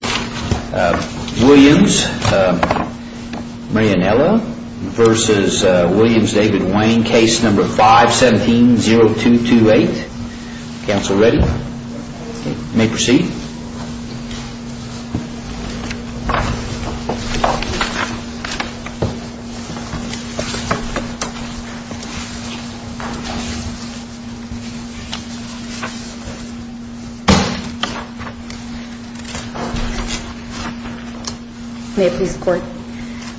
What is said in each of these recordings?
v. Williams v. David Wayne, Case No. 517-0228. Counsel ready? You may proceed. May it please the Court.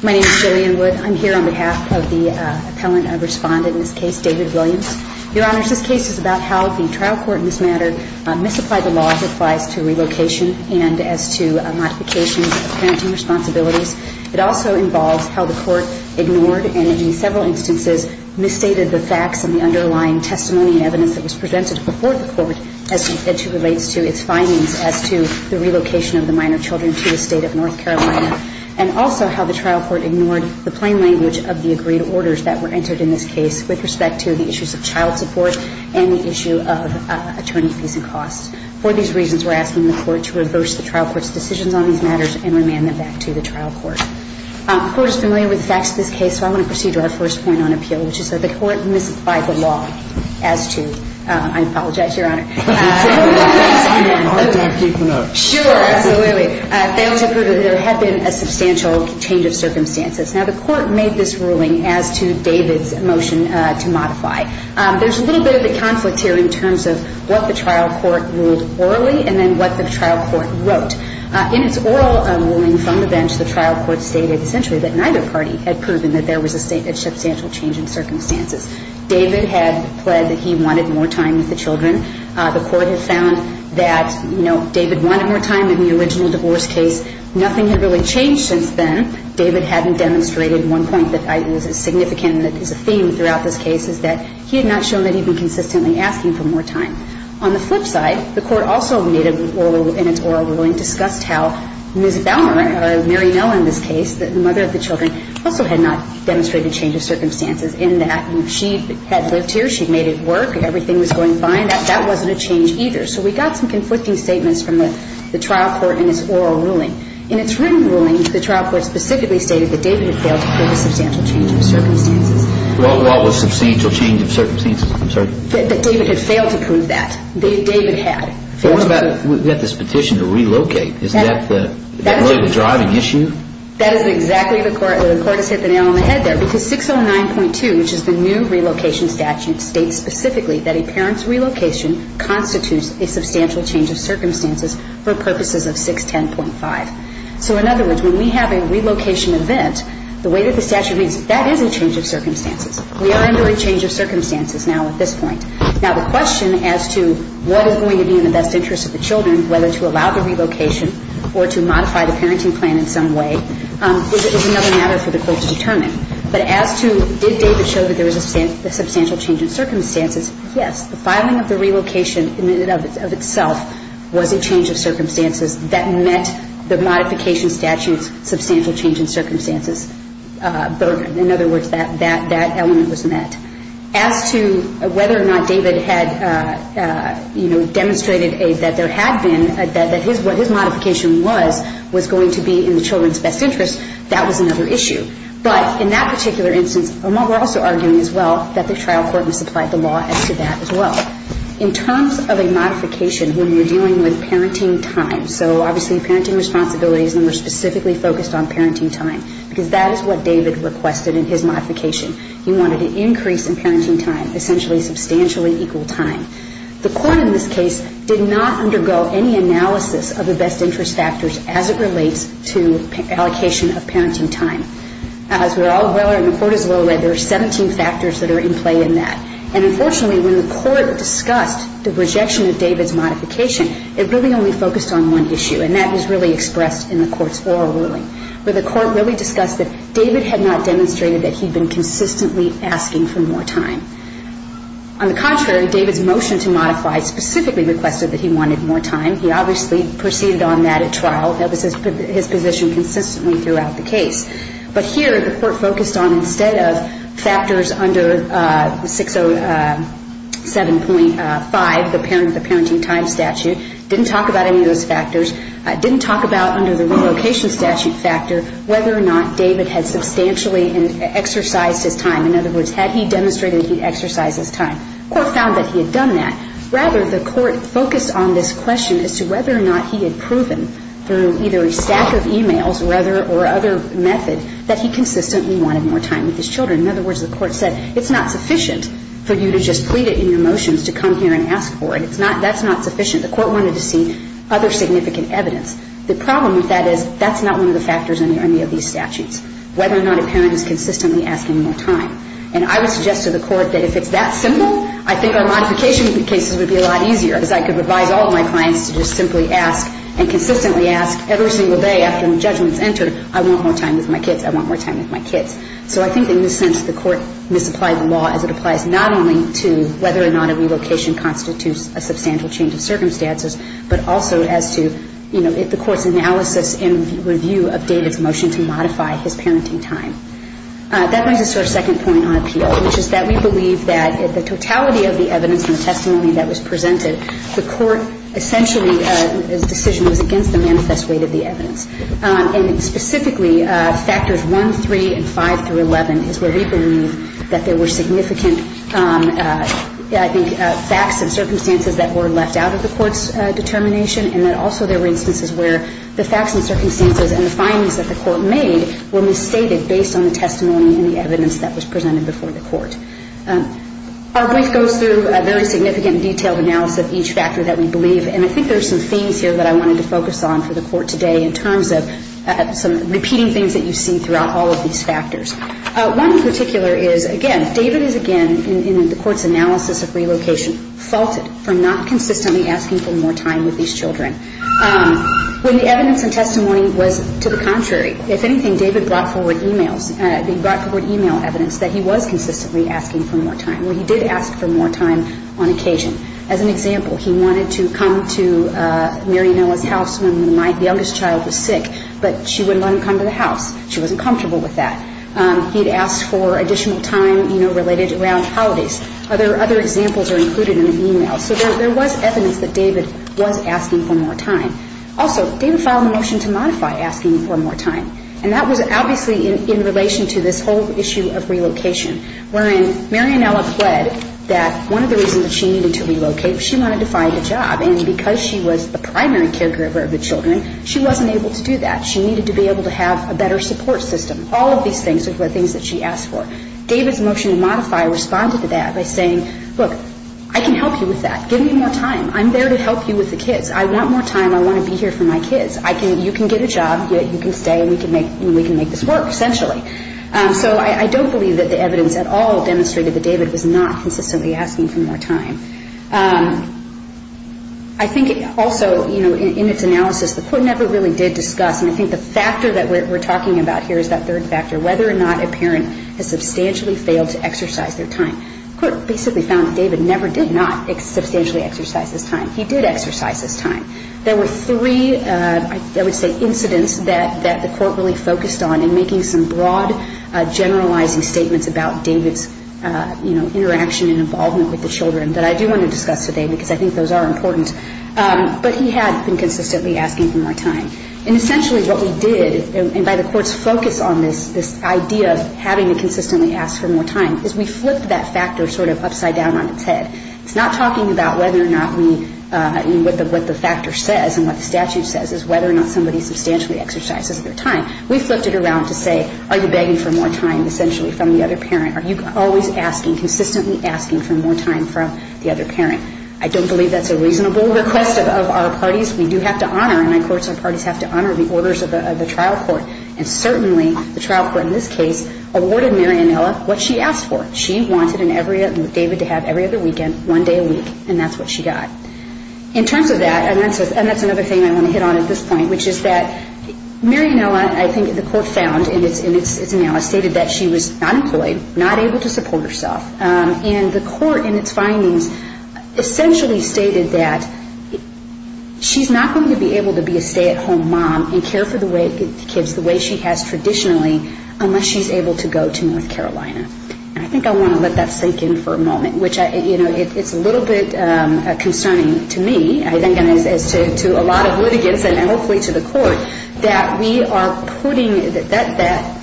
My name is Jillian Wood. I'm here on behalf of the appellant and respondent in this case, David Williams. Your Honors, this case is about how the trial court in this matter misapplied the law as it applies to relocation and as to modifications of parenting responsibilities. It also involves how the Court ignored and, in several instances, misstated the facts and the underlying testimony and evidence that was presented before the Court as it relates to its findings as to the relocation of the minor children to the State of North Carolina, and also how the trial court ignored the plain language of the agreed orders that were entered in this case with respect to the issues of child support and the issue of attorney fees and costs. For these reasons, we're asking the Court to reverse the trial court's decisions on these matters and remand them back to the trial court. The Court is familiar with the facts of this case, so I want to proceed to our first point on appeal, which is that the Court misapplied the law as to – I apologize, Your Honor. Sure, absolutely. They also proved that there had been a substantial change of circumstances. Now, the Court made this ruling as to David's motion to modify. There's a little bit of a conflict here in terms of what the trial court ruled orally and then what the trial court wrote. In its oral ruling from the bench, the trial court stated essentially that neither party had proven that there was a substantial change in circumstances. David had pled that he wanted more time with the children. The Court had found that, you know, David wanted more time in the trial court. He had not shown that he'd been consistently asking for more time. On the flip side, the Court also made a – in its oral ruling discussed how Ms. Balmer, Mary Mill, in this case, the mother of the children, also had not demonstrated change of circumstances in that she had lived here, she'd made it work, everything was going fine. That wasn't a change either. So we got some conflict there. But the Court also made a ruling that David had not demonstrated change of circumstances. I'm sorry? That David had failed to prove that. David had. But what about – we've got this petition to relocate. Isn't that the driving issue? That is exactly the – the Court has hit the nail on the head there because 609.2, which is the new relocation statute, states specifically that a parent's relocation constitutes a substantial change of circumstances for purposes of 610.5. So in this case, if you have a relocation event, the way that the statute reads, that is a change of circumstances. We are under a change of circumstances now at this point. Now, the question as to what is going to be in the best interest of the children, whether to allow the relocation or to modify the parenting plan in some way, is another matter for the Court to determine. But as to did David show that there was a substantial change in circumstances, yes. The filing of the relocation in and of itself was a change of circumstances that met the modification statute's substantial change in circumstances burden. In other words, that element was met. As to whether or not David had, you know, demonstrated that there had been – that his modification was going to be in the children's best interest, that was another issue. But in that particular instance, we're also arguing as well that the trial court must apply the law as to that as well. In terms of a modification when you're dealing with parenting time, so obviously parenting responsibilities and we're specifically focused on parenting time, because that is what David requested in his modification. He wanted an increase in parenting time, essentially substantially equal time. The Court in this case did not undergo any analysis of the best interest factors as it relates to allocation of parenting time. As we're all well aware and the Court is well aware, there are 17 factors that are in play in that. And unfortunately, when the Court discussed the rejection of David's modification, it really only focused on one issue, and that was really expressed in the Court's oral ruling, where the Court really discussed that David had not demonstrated that he'd been consistently asking for more time. On the contrary, David's motion to modify specifically requested that he wanted more time. He obviously proceeded on that at trial. That was his position consistently throughout the case. But here, the Court focused on instead of factors under 607.5, the parenting time statute, didn't talk about any of those factors, didn't talk about under the relocation statute factor whether or not David had substantially exercised his time. In other words, had he demonstrated he'd exercised his time. The Court found that he had done that. Rather, the Court focused on this question as to whether or not he had proven through either a stack of e-mails or other method that he consistently wanted more time with his kids. And the Court said, it's not sufficient for you to just plead it in your motions to come here and ask for it. That's not sufficient. The Court wanted to see other significant evidence. The problem with that is that's not one of the factors under any of these statutes, whether or not a parent is consistently asking more time. And I would suggest to the Court that if it's that simple, I think our modification cases would be a lot easier, because I could advise all of my clients to just simply ask and consistently ask every single day after the judgment's So I think the Court is right in this sense. The Court misapplied the law as it applies not only to whether or not a relocation constitutes a substantial change of circumstances but also as to, you know, if the Court's analysis and review of David's motion to modify his parenting time. That brings us to our second point on appeal, which is that we believe that the totality of the evidence and the testimony that was presented, the Court essentially the decision was against the manifest weight of the that there were significant, I think, facts and circumstances that were left out of the Court's determination, and that also there were instances where the facts and circumstances and the findings that the Court made were misstated based on the testimony and the evidence that was presented before the Court. Our brief goes through a very significant detailed analysis of each factor that we believe, and I think there's some themes here that I wanted to focus on for the Court today in terms of some repeating things that you've seen throughout all of these factors. One in particular is, again, David is again, in the Court's analysis of relocation, faulted for not consistently asking for more time with these children. When the evidence and testimony was to the contrary, if anything, David brought forward e-mails, he brought forward e-mail evidence that he was consistently asking for more time. Well, he did ask for more time on occasion. As an example, he wanted to come to Mary and Ella's house when the youngest child was sick, but she wouldn't let him come to the house. She wasn't comfortable with that. The evidence and testimony he'd asked for additional time, you know, related around holidays. Other examples are included in the e-mail. So there was evidence that David was asking for more time. Also, David filed a motion to modify asking for more time, and that was obviously in relation to this whole issue of relocation, wherein Mary and Ella pled that one of the reasons that she needed to relocate, she wanted to find a job, and because she was the primary caregiver of the children, she wasn't able to do that. She needed to be able to have a better support system. All of these things are things that she asked for. David's motion to modify responded to that by saying, look, I can help you with that. Give me more time. I'm there to help you with the kids. I want more time. I want to be here for my kids. You can get a job, you can stay, and we can make this work, essentially. So I don't believe that the evidence at all demonstrated that David was not consistently asking for more time. I think also, you know, in its analysis, the court never really did discuss, and I think the factor that we're talking about here is that third factor, whether or not a parent has substantially failed to exercise their time. The court basically found that David never did not substantially exercise his time. He did exercise his time. There were three, I would say, incidents that the court really focused on in making some broad, generalizing statements about David's, you know, interaction and involvement with the children that I do want to discuss today because I think those are important. But he had been consistently asking for more time. And essentially what we did, and by the court's focus on this idea of having to consistently ask for more time, is we flipped that factor sort of upside down on its head. It's not talking about whether or not we, what the factor says and what the statute says is whether or not somebody substantially exercises their time. We flipped it around to say, are you begging for more time, essentially, from the other parent? Are you always asking, consistently asking for more time from the other parent? I don't believe that's a reasonable request of our parties. We do have to honor, in my courts, our parties have to honor the trial court. And certainly the trial court in this case awarded Mary Anella what she asked for. She wanted David to have every other weekend, one day a week. And that's what she got. In terms of that, and that's another thing I want to hit on at this point, which is that Mary Anella, I think the court found in its analysis, stated that she was unemployed, not able to support herself. And the court in its findings essentially stated that she's not going to be able to be a stay-at-home mom and care for the kids the way she has traditionally unless she's able to go to North Carolina. And I think I want to let that sink in for a moment, which, you know, it's a little bit concerning to me, I think, and as to a lot of litigants and hopefully to the court, that we are putting, that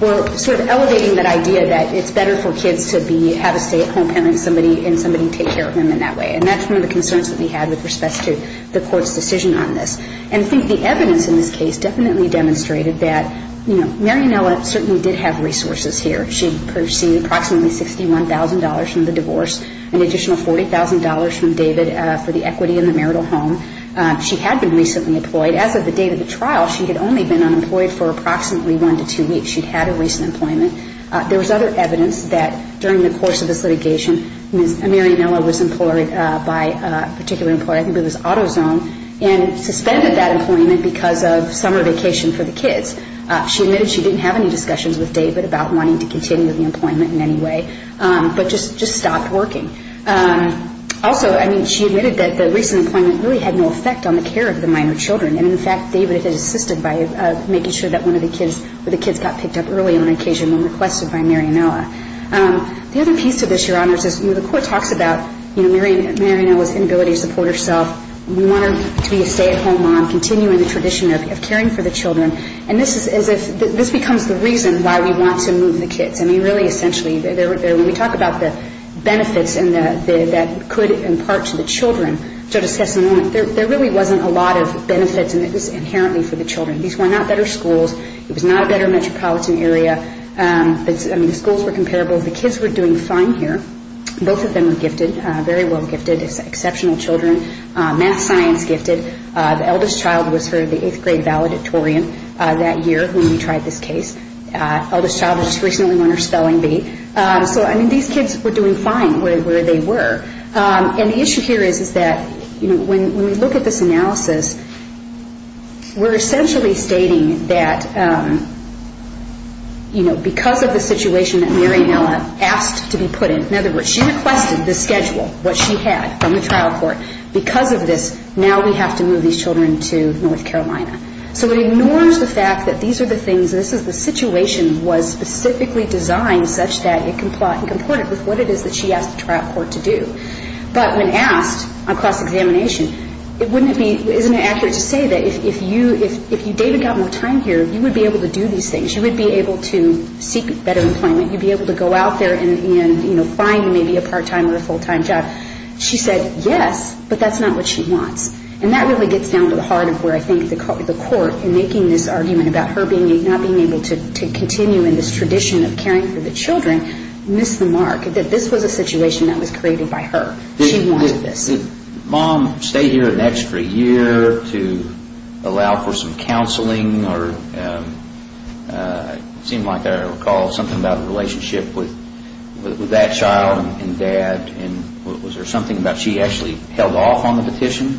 we're sort of elevating that idea that it's better for kids to have a stay-at-home parent and somebody take care of them in that way. And that's one of the concerns that we had with respect to the court's decision on this. And I think the evidence in this case definitely demonstrated that, you know, Mary Anella certainly did have resources here. She received approximately $61,000 from the divorce and additional $40,000 from David for the equity in the marital home. She had been recently employed. As of the date of the trial, she had only been unemployed for approximately one to two weeks. She'd had a recent employment. There was other evidence that during the course of this litigation, Mary Anella was employed by a particular employer, I think it was AutoZone, and suspended that employment because of summer vacation for the kids. She admitted she didn't have any discussions with David about wanting to continue the employment in any way, but just stopped working. Also, I mean, she admitted that the recent employment really had no effect on the care of the minor children. And, in fact, David had assisted by making sure that one of the kids got picked up early on occasion when requested by Mary Anella. The other piece to this, Your Honor, is the court talks about Mary Anella's inability to support herself. We want her to be a stay-at-home mom, continuing the tradition of caring for the children. And this is as if this becomes the reason why we want to move the kids. I mean, really, essentially, when we talk about the benefits that could impart to the children, Judge O'Sullivan, there really wasn't a lot of benefits, and it was inherently for the children. These were not better schools. It was not a better metropolitan area. I mean, the schools were both of them were gifted, very well gifted, exceptional children. Math science gifted. The eldest child was for the eighth grade valedictorian that year when we tried this case. The eldest child just recently won her spelling bee. So, I mean, these kids were doing fine where they were. And the issue here is that when we look at this analysis, we're essentially stating that because of the situation that Mary Anella asked to be put in, in other words, she requested the schedule, what she had from the trial court, because of this, now we have to move these children to North Carolina. So it ignores the fact that these are the things, this is the situation was specifically designed such that it comported with what it is that she asked the trial court to do. But when asked on cross-examination, it wouldn't be, isn't it accurate to say that if you David got more time here, you would be able to do these things. You would be able to seek better employment. You'd be able to go out there and find maybe a part-time or a full-time job. She said yes, but that's not what she wants. And that really gets down to the heart of where I think the court in making this argument about her not being able to continue in this tradition of caring for the children missed the mark. That this was a situation that was created by her. She wanted this. Did mom stay here an extra year to allow for some counseling or it seemed like I recall something about a relationship with that child and dad. Was there something about she actually held off on the petition?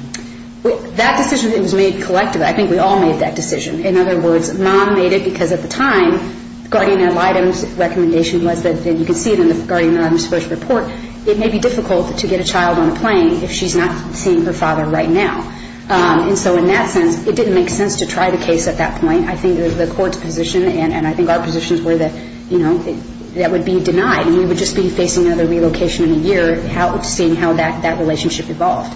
That decision was made collectively. I think we all made that decision. In other words, mom made it because at the time, the guardian ad litem's recommendation was that, and you can see it in the guardian ad litem's first report, it may be difficult to get a child on a plane if she's not seeing her father right now. And so in that sense, it didn't make sense to try the case at that point. I think the court's position and I think our positions were that, you know, that would be denied and we would just be facing another relocation in a year seeing how that relationship evolved.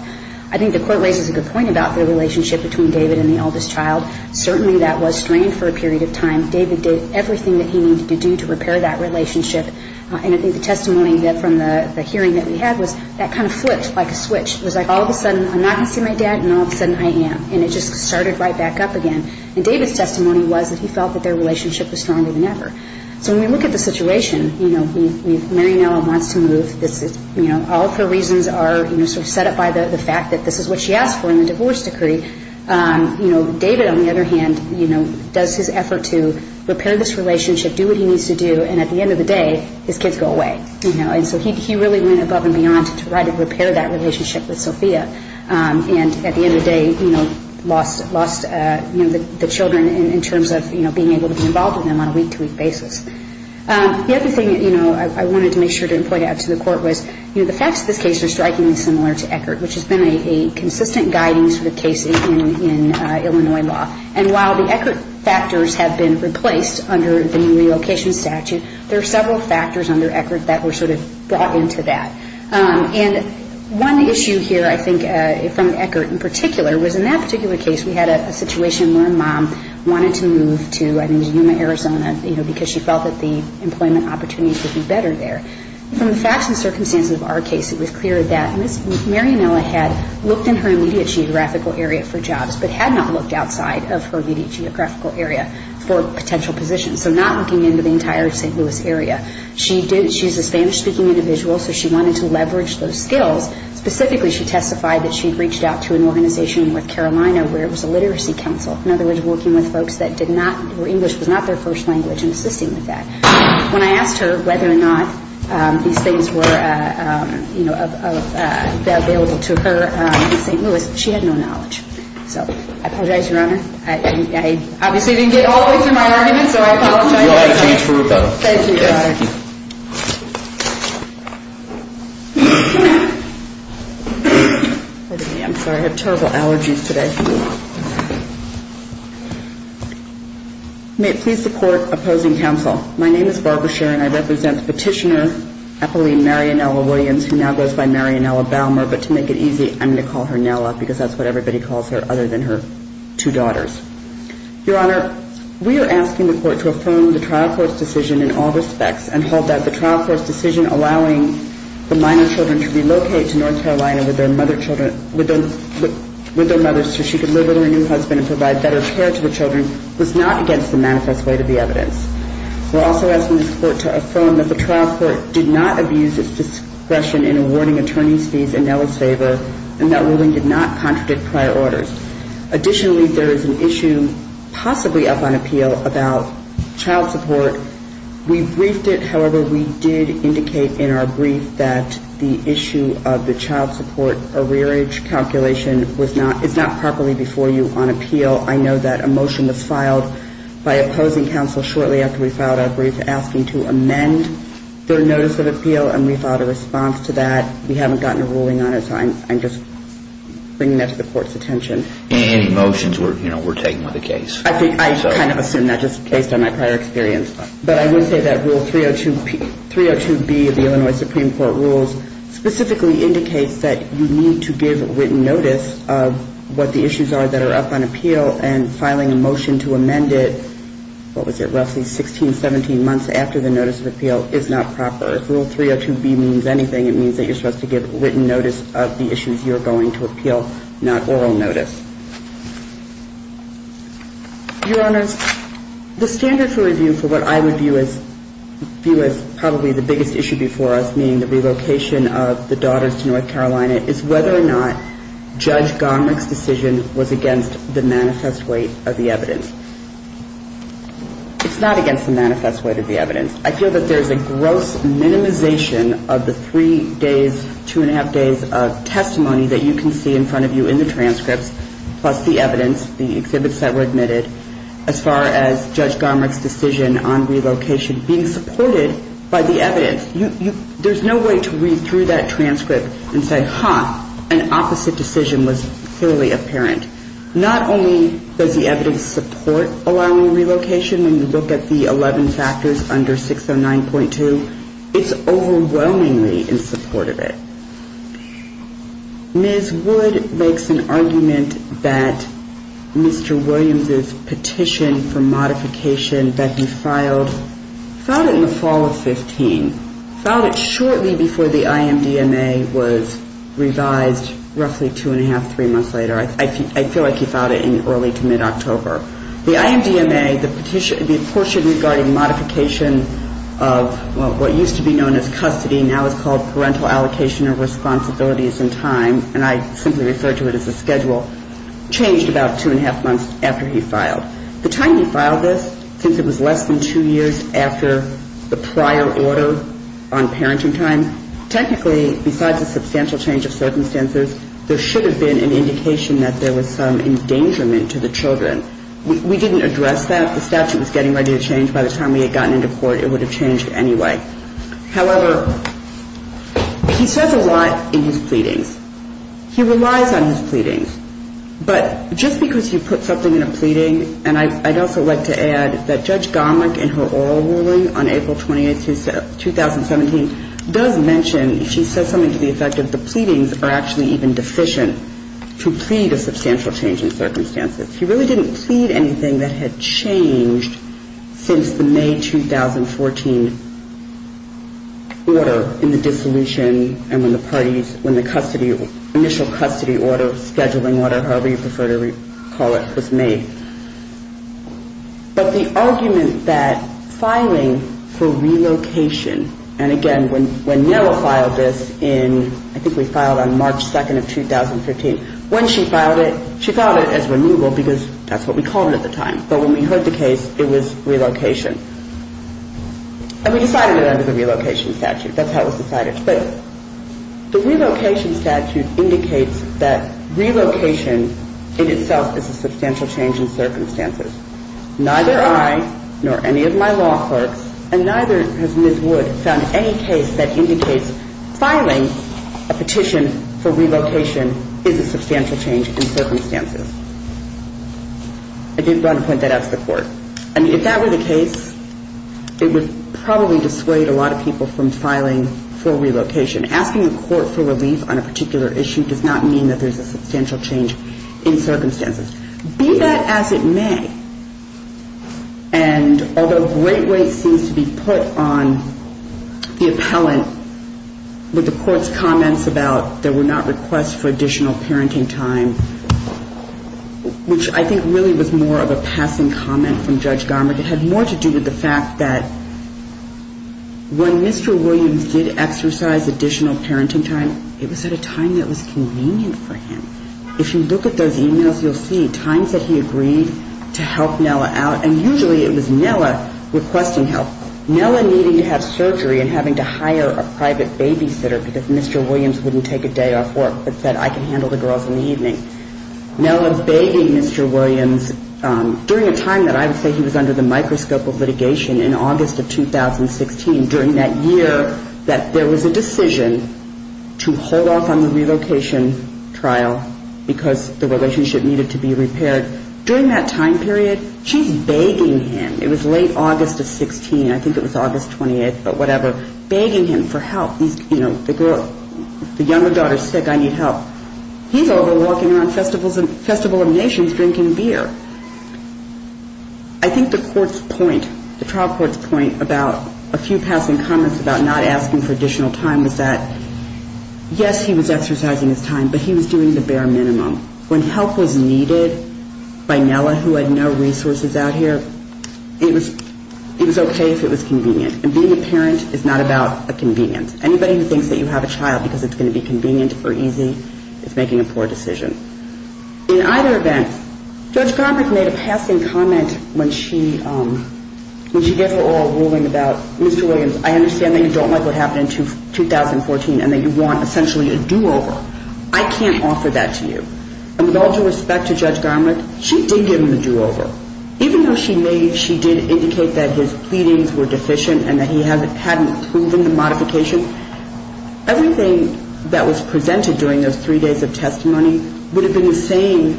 I think the court raises a good point about the relationship between David and the eldest child. Certainly that was strained for a period of time. David did everything that he needed to do to repair that relationship. And I think the testimony from the hearing that we had was that kind of flipped like a switch. It was like all of a sudden I'm not going to see my dad and all of a sudden I am. And it just started right back up again. And David's testimony was that he felt that their relationship was stronger than ever. So when we look at the situation, you know, Mary now wants to move. All of her reasons are sort of set up by the fact that this is what she asked for in the divorce decree. David, on the other hand, does his effort to repair this relationship, do what he needs to do, and at the end of the day, his kids go away. And so he really went above and beyond to try to repair that relationship with Mary, and at the end of the day, lost the children in terms of being able to be involved with them on a week-to-week basis. The other thing I wanted to make sure to point out to the court was the facts of this case are strikingly similar to Eckert, which has been a consistent guiding sort of case in Illinois law. And while the Eckert factors have been replaced under the relocation statute, there are several factors under Eckert that were sort of brought into that. And one issue here, I think, from Eckert in particular was in that particular case, we had a situation where a mom wanted to move to, I think, Yuma, Arizona, you know, because she felt that the employment opportunities would be better there. From the facts and circumstances of our case, it was clear that Ms. Marianella had looked in her immediate geographical area for jobs, but had not looked outside of her immediate geographical area for potential positions. So not looking into the entire St. Louis area. She's a Spanish-speaking individual, so she wanted to testify that she'd reached out to an organization in North Carolina where it was a literacy council. In other words, working with folks that did not, where English was not their first language and assisting with that. When I asked her whether or not these things were, you know, available to her in St. Louis, she had no knowledge. So I apologize, Your Honor. I obviously didn't get all the way through my argument, so I apologize. Thank you, Your Honor. I'm sorry. I have terrible allergies today. May it please the Court opposing counsel. My name is Barbara Scherr, and I represent Petitioner Eppeline Marianella Williams, who now goes by Marianella Balmer, but to make it easy, I'm going to call her Nella because that's what everybody calls her other than her two daughters. Your Honor, we are asking the Court to affirm the trial court's decision in all respects and hold that the trial court's decision allowing the minor children to relocate to North Carolina with their mothers so she could live with her new husband and provide better care to the children was not against the manifest weight of the evidence. We're also asking the Court to affirm that the trial court did not abuse its discretion in awarding attorney's fees in Nella's favor and that ruling did not contradict prior orders. Additionally, there is an issue possibly up on appeal about child support. We briefed it. However, we did indicate in our brief that the issue of the child support rearage calculation is not properly before you on appeal. I know that a motion was filed by opposing counsel shortly after we filed our brief asking to amend their notice of appeal, and we filed a response to that. We haven't gotten a ruling on it, so I'm just bringing that to the Court's attention. Any motions, we're taking with the case. I kind of assume that just based on my prior experience, but I would say that Rule 302B of the Illinois Supreme Court rules specifically indicates that you need to give written notice of what the issues are that are up on appeal and filing a motion to amend it, what was it, roughly 16, 17 months after the notice of appeal is not proper. If Rule 302B means anything, it means that you're supposed to give written notice of the issues you're going to appeal, not oral notice. Your Honors, the standard for review for what I would view as probably the biggest issue before us, meaning the relocation of the daughters to North Carolina, is whether or not Judge Gomerich's decision was against the manifest weight of the evidence. It's not against the manifest weight of the evidence. I feel that there's a gross minimization of the three days, two and a half days of testimony that you can see in front of you in the transcripts, plus the evidence, the exhibits that were admitted, as far as Judge Gomerich's decision on the relocation, by the evidence. There's no way to read through that transcript and say, huh, an opposite decision was clearly apparent. Not only does the evidence support allowing relocation, when you look at the 11 factors under 609.2, it's overwhelmingly in support of it. Ms. Wood makes an argument that Mr. Williams's petition for modification that he filed in 2015, filed it shortly before the IMDMA was revised roughly two and a half, three months later. I feel like he filed it in early to mid-October. The IMDMA, the portion regarding modification of what used to be known as custody, now is called parental allocation of responsibilities and time, and I simply refer to it as a schedule, changed about two and a half months after he filed. The time he filed this, since it was less than two years after the prior order on parenting time, technically, besides a substantial change of circumstances, there should have been an indication that there was some endangerment to the children. We didn't address that. The statute was getting ready to change. By the time we had gotten into court, it would have changed anyway. However, he says a lot in his pleadings. He relies on his pleadings. But just because you put something in a pleading, and I'd also like to add that Judge Gomelich, in her oral ruling on April 28, 2017, does mention, she says something to the effect of the pleadings are actually even deficient to plead a substantial change in circumstances. He really didn't plead anything that had changed since the May 2014 order in the dissolution and when the parties, when the custody, initial custody order, scheduling order, however you prefer to call it, was made. But the argument that filing for relocation, and again, when Nella filed this in, I think we filed on March 2nd of 2015, when she filed it, she filed it as removal because that's what we called it at the time. But when we heard the case, it was relocation. And we decided it under the relocation statute. That's how it was decided. The relocation statute indicates that relocation in itself is a substantial change in circumstances. Neither I, nor any of my law clerks, and neither has Ms. Wood found any case that indicates filing a petition for relocation is a substantial change in circumstances. I did want to point that out to the court. And if that were the case, it would probably dissuade a lot of people from filing for relocation. Asking a court for relief on a particular issue does not mean that there's a substantial change in circumstances. Be that as it may, and although great weight seems to be put on the appellant with the court's comments about there were not requests for additional parenting time, which I think really was more of a passing comment from Judge Garmick, it had more to do with the fact that when Mr. Williams did exercise additional parenting time, it was at a time that was convenient for him. If you look at those emails, you'll see times that he agreed to help Nella out, and usually it was Nella requesting help. Nella needing to have surgery and having to hire a private babysitter because Mr. Williams wouldn't take a day off work but said, I can handle the girls in the evening. Nella begging Mr. Williams during a time that I would say he was under the microscope of litigation in August of 2016, during that year that there was a decision to hold off on the relocation trial because the relationship needed to be repaired. During that time period, she's begging him, it was late August of 16, I think it was August 28th, but whatever, begging him for help. The younger daughter's sick, I need help. He's over walking around Festival of Nations drinking beer. I think the court's point, the trial court's point about a few passing comments about not asking for additional time was that yes, he was exercising his time, but he was doing the bare minimum. When help was needed by Nella, who had no resources out here, it was okay if it was convenient. And being a parent is not about a convenient. Anybody who thinks that you have a child because it's going to be convenient or easy is making a poor decision. In either event, Judge Roberts made a passing comment when she gave her oral ruling about, Mr. Williams, I understand that you don't like what happened in 2014 and that you want essentially a do-over. I can't offer that to you. And with all due respect to Judge Garmick, she did give him the do-over. Even though she did indicate that his pleadings were deficient and that he hadn't proven the modification, everything that was presented during those three days of testimony would have been the same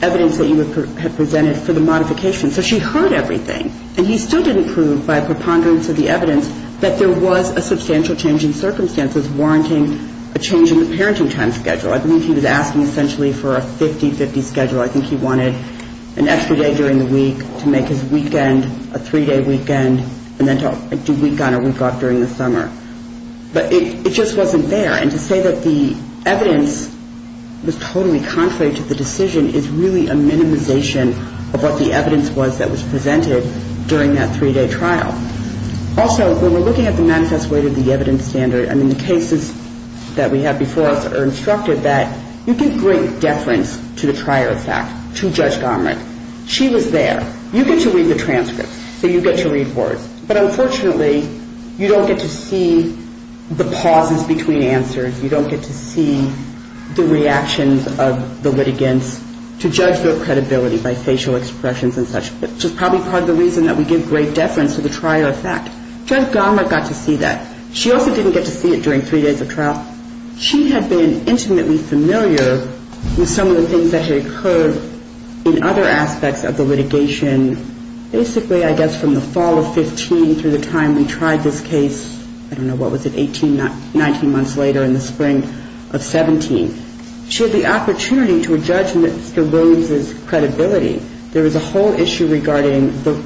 evidence that you had presented for the modification. So she heard everything. And he still didn't prove by preponderance of the evidence that there was a substantial change in circumstances warranting a change in the parenting time schedule. I believe he was asking essentially for a 50-50 schedule. I think he wanted an extra day during the week to make his weekend a three-day weekend and then to do week on or week off during the summer. But it just wasn't there. And to say that the evidence was totally contrary to the decision is really a minimization of what the evidence was that was presented during that three-day trial. Also, when we're looking at the manifest way to the evidence standard, I mean, the cases that we have before us are instructed that you give great deference to the trier effect, to Judge Garmick. She was there. You get to read the transcripts. So you get to read words. But unfortunately, you don't get to see the pauses between answers. You don't get to see the reactions of the litigants to judge vote credibility by facial expressions and such, which is probably part of the reason that we give great deference to the trier effect. Judge Garmick got to see that. She also didn't get to see it during three days of trial. She had been intimately familiar with some of the things that had occurred in other aspects of the litigation, basically I guess from the fall of 15 through the time we tried this case, I don't know, what was it, 18, 19 months later in the spring of 17. She had the opportunity to judge Mr. Williams' credibility. There was a whole issue regarding the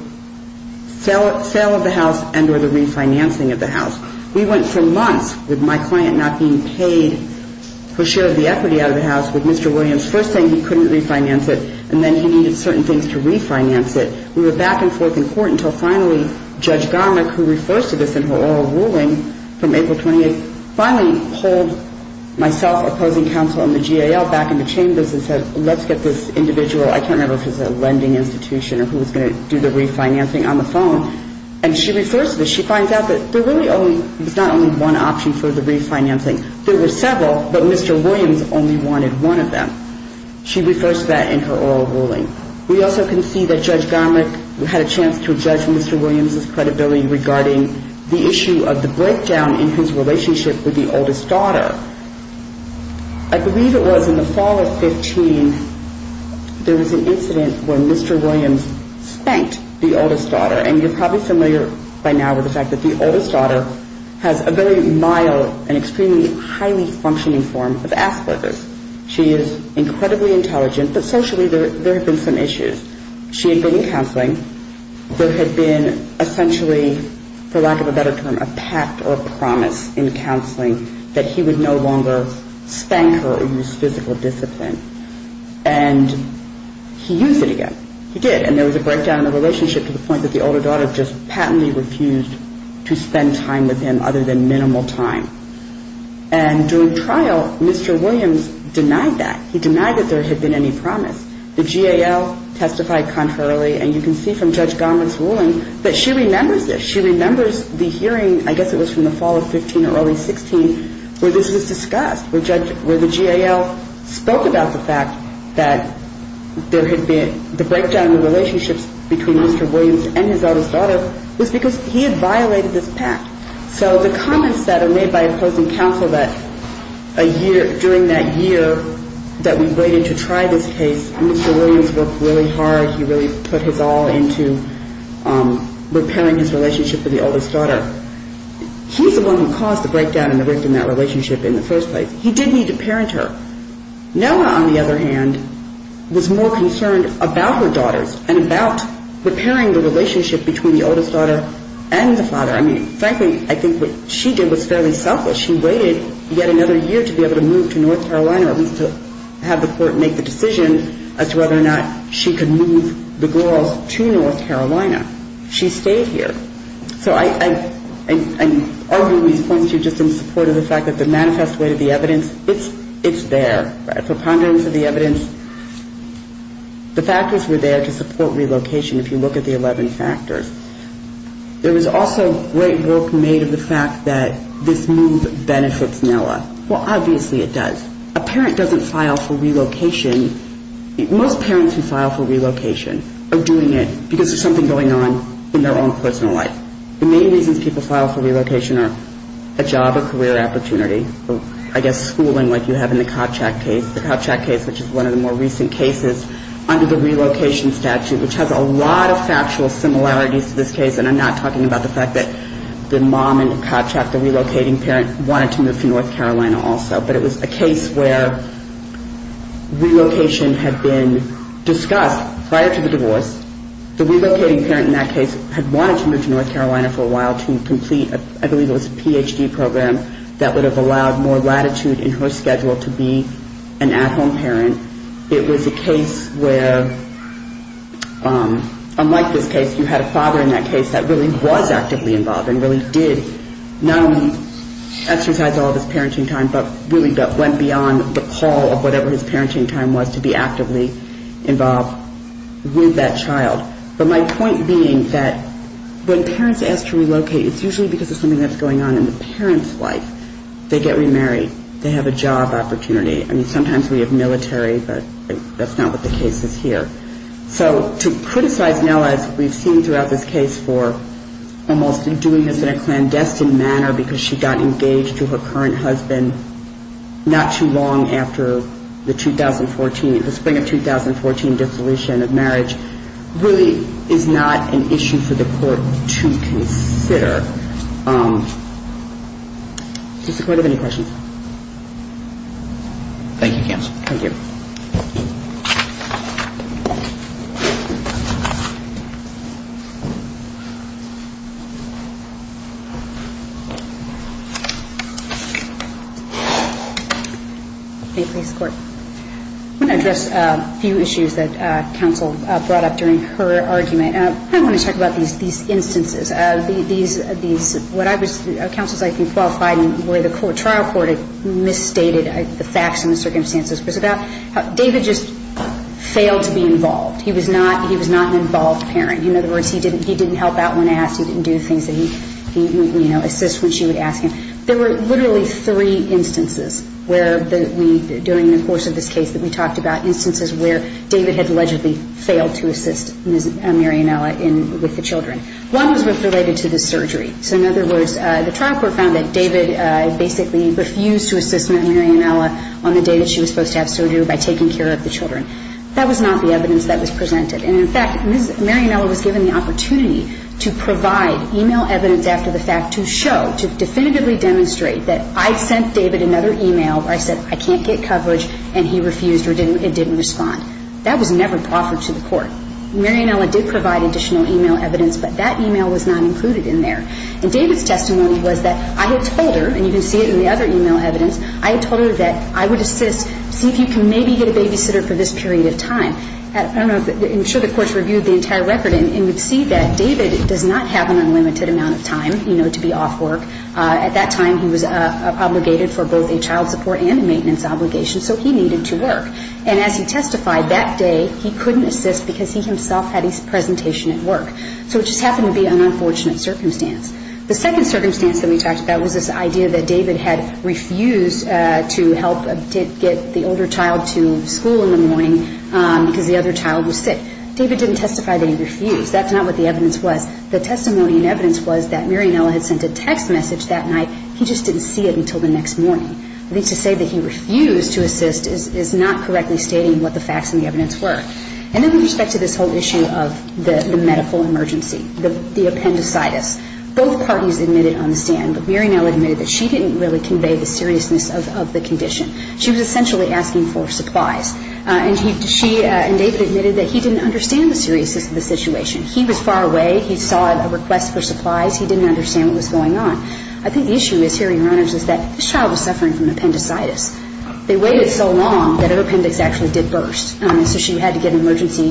sale of the house and or the refinancing of the house. We went for months with my client not being paid her share of the equity out of the house with Mr. Williams first saying he couldn't refinance it and then he needed certain things to refinance it. We were back and forth in court until finally Judge Garmick, who refers to this in her oral ruling from April 28th, finally pulled myself, opposing counsel and the GAL back into chambers and said let's get this individual, I can't remember if it was a lending institution or who was going to do the refinancing on the phone. And she refers to this. She finds out that there really was not only one option for the refinancing. There were several but Mr. Williams only wanted one of them. She refers to that in her oral ruling. We also can see that Judge Garmick had a chance to judge Mr. Williams' credibility regarding the issue of the breakdown in his relationship with the oldest daughter. I believe it was in the fall of 15 there was an incident where Mr. Williams spanked the oldest daughter and you're probably familiar by now with the fact that the oldest daughter has a very mild and extremely highly functioning form of Asperger's. She is incredibly intelligent but socially there have been some issues. She had been in counseling. There had been essentially for lack of a better term a pact or promise in counseling that he would no longer spank her or use physical discipline. And he used it again. He did. And there was a breakdown in the relationship to the point that the older daughter just patently refused to spend time with him other than minimal time. And during trial Mr. Williams denied that. He denied that there had been any promise. The GAL testified contrarily and you can see from Judge Garmick's testimony that she remembers this. She remembers the hearing I guess it was from the fall of 15 or early 16 where this was discussed. Where the GAL spoke about the fact that there had been the breakdown in the relationships between Mr. Williams and his oldest daughter was because he had violated this pact. So the comments that are made by opposing counsel that during that year that we waited to try this case Mr. Williams worked really hard. He really put his all into repairing his relationship with the oldest daughter. He's the one who caused the breakdown and the rift in that relationship in the first place. He did need to parent her. Noah on the other hand was more concerned about her daughters and about repairing the relationship between the oldest daughter and the father. I mean frankly I think what she did was fairly selfish. She waited yet another year to be able to move to North Carolina or at least to have the court make the decision as to whether or not she could move the girls to North Carolina. She stayed here. So I'm arguing these points here just in support of the fact that the manifest way to the evidence, it's there. The preponderance of the evidence, the factors were there to support relocation if you look at the 11 factors. There was also great work made of the fact that this move benefits Noah. Well obviously it does. A parent doesn't file for relocation most parents who file for relocation are doing it because there's something going on in their own personal life. The main reasons people file for relocation are a job or career opportunity or I guess schooling like you have in the Kopchak case. The Kopchak case which is one of the more recent cases under the relocation statute which has a lot of factual similarities to this case and I'm not talking about the fact that the mom in Kopchak, the relocating parent wanted to move to North Carolina also. But it was a case where relocation had been discussed prior to the divorce. The relocating parent in that case had wanted to move to North Carolina for a while to complete I believe it was a Ph.D. program that would have allowed more latitude in her schedule to be an at home parent. It was a case where unlike this case you had a father in that case that really was actively involved and really did not only exercise all of his parenting time but really went beyond the call of whatever his parenting time was to be actively involved with that child. But my point being that when parents ask to relocate it's usually because of something that's going on in the parent's life. They get remarried. They have a job opportunity. I mean sometimes we have military but that's not what the case is here. So to criticize Nellis we've seen throughout this case for almost doing this in a clandestine manner because she got engaged to her current husband not too long after the 2014 the spring of 2014 dissolution of marriage really is not an issue for the court to consider. Does the court have any questions? Thank you counsel. Thank you. I want to address a few issues that counsel brought up during her argument. I want to talk about these instances. Counsel's I think qualified in the way the trial court had misstated the facts and the circumstances. It was about David just failed to be involved. He was not an involved parent. In other words he didn't help out when asked. He didn't do things that he would assist when she would ask him. There were literally three instances where we during the course of this case that we talked about instances where David had allegedly failed to assist Ms. Marianella with the children. One was related to the surgery. So in other words the trial court found that David basically refused to assist Ms. Marianella on the day that she was supposed to have surgery by taking care of the children. That was not the evidence that was presented. And in fact Ms. Marianella was given the opportunity to provide e-mail evidence after the fact to show, to definitively demonstrate that I sent David another e-mail where I said I can't get coverage and he refused or didn't respond. That was never offered to the court. Marianella did provide additional e-mail evidence but that e-mail was not included in there. And David's testimony was that I had told her, and you can see it in the other e-mail evidence, I had told her that I would assist, see if you can maybe get a babysitter for this period of time. I'm sure the courts reviewed the entire record and would see that David does not have an unlimited amount of time, you know, to be off work. At that time he was obligated for both a child support and a maintenance obligation so he needed to work. And as he testified, that day he couldn't assist because he himself had his presentation at work. So it just happened to be an unfortunate circumstance. The second circumstance that we talked about was this idea that David had refused to help get the older child to school in the morning because the other child was sick. David didn't testify that he refused. That's not what the evidence was. The testimony and evidence was that Marianella had sent a text message that night, he just didn't see it until the next morning. At least to say that he refused to assist is not correctly stating what the facts and the evidence were. And then with respect to this whole issue of the medical emergency, the appendicitis, both parties admitted on the stand that Marianella admitted that she didn't really convey the seriousness of the condition. She was essentially asking for supplies. And she and David admitted that he didn't understand the seriousness of the situation. He was far away. He saw a request for supplies. He didn't understand what was going on. I think the issue is here, Your Honors, is that this child was suffering from appendicitis. They waited so long that her appendix actually did burst. So she had to get emergency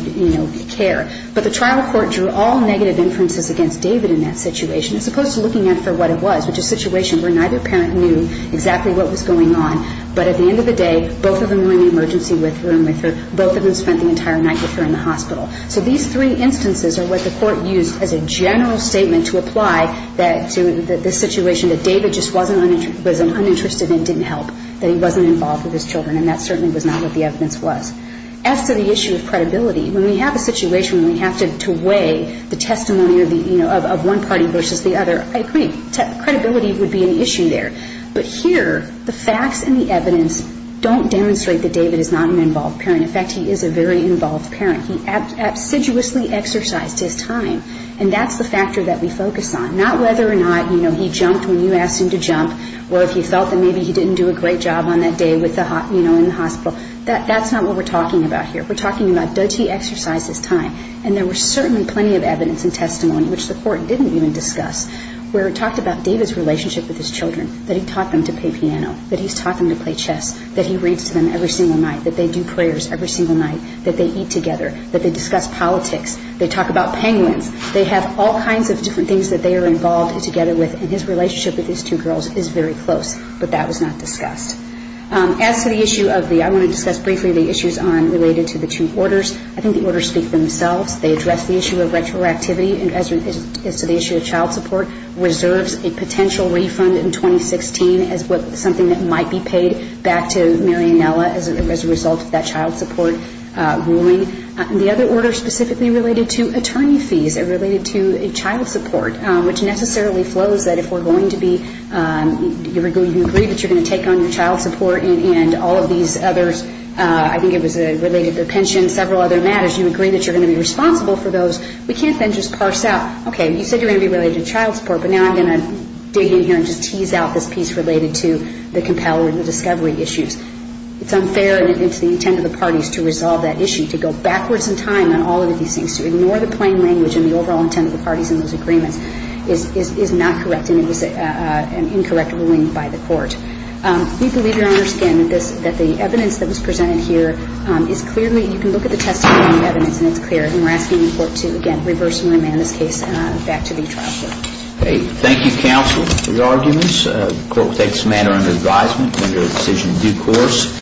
care. But the trial court drew all negative inferences against David in that situation as opposed to looking out for what it was, which is a situation where neither parent knew exactly what was going on. But at the end of the day, both of them were in the emergency room with her. Both of them spent the entire night with her in the hospital. So these three instances are what the Court used as a general statement to apply to the situation that David just wasn't uninterested in and didn't help, that he wasn't involved with his children. And that certainly was not what the evidence was. As to the issue of credibility, when we have a situation where we have to weigh the testimony of one party versus the other, I agree. Credibility would be an issue there. But here, the facts and the evidence don't demonstrate that David is not an involved parent. In fact, he is a very involved parent. He assiduously exercised his time. And that's the factor that we focus on. Not whether or not he jumped when you asked him to jump or if he felt that maybe he didn't do a great job on that day in the hospital. That's not what we're talking about here. We're talking about, does he exercise his time? And there was certainly plenty of evidence and testimony, which the Court didn't even discuss, where it talked about David's relationship with his children, that he taught them to play piano, that he's taught them to play chess, that he reads to them every single night, that they do prayers every single night, that they eat together, that they discuss politics. They talk about penguins. They have all kinds of different things that they are involved together with. And his relationship with these two girls is very close. But that was not discussed. As to the issue of the, I want to discuss briefly the issues related to the two orders. I think the orders speak for themselves. They address the issue of retroactivity as to the issue of child support, reserves a potential refund in 2016 as something that might be paid back to Marianella as a result of that child support ruling. The other order specifically related to attorney fees, related to child support, which necessarily flows that if we're going to be you agree that you're going to take on your child support and all of these others I think it was related to pension, several other matters, you agree that you're going to be responsible for those, we can't then just parse out, okay, you said you're going to be related to child support, but now I'm going to dig in here and just tease out this piece related to the compelling discovery issues. It's unfair and it's the intent of the parties to resolve that issue, to go backwards in time on all of these things, to ignore the plain language and the overall intent of the parties in those agreements is not correct and it was an incorrect ruling by the court. We believe Your Honor, again, that the evidence that was presented here is clearly you can look at the testimony and the evidence and it's clear and we're asking the court to, again, reverse and back to the child support. Okay, thank you counsel for your arguments. The court will take this matter under advisement under a decision in due course.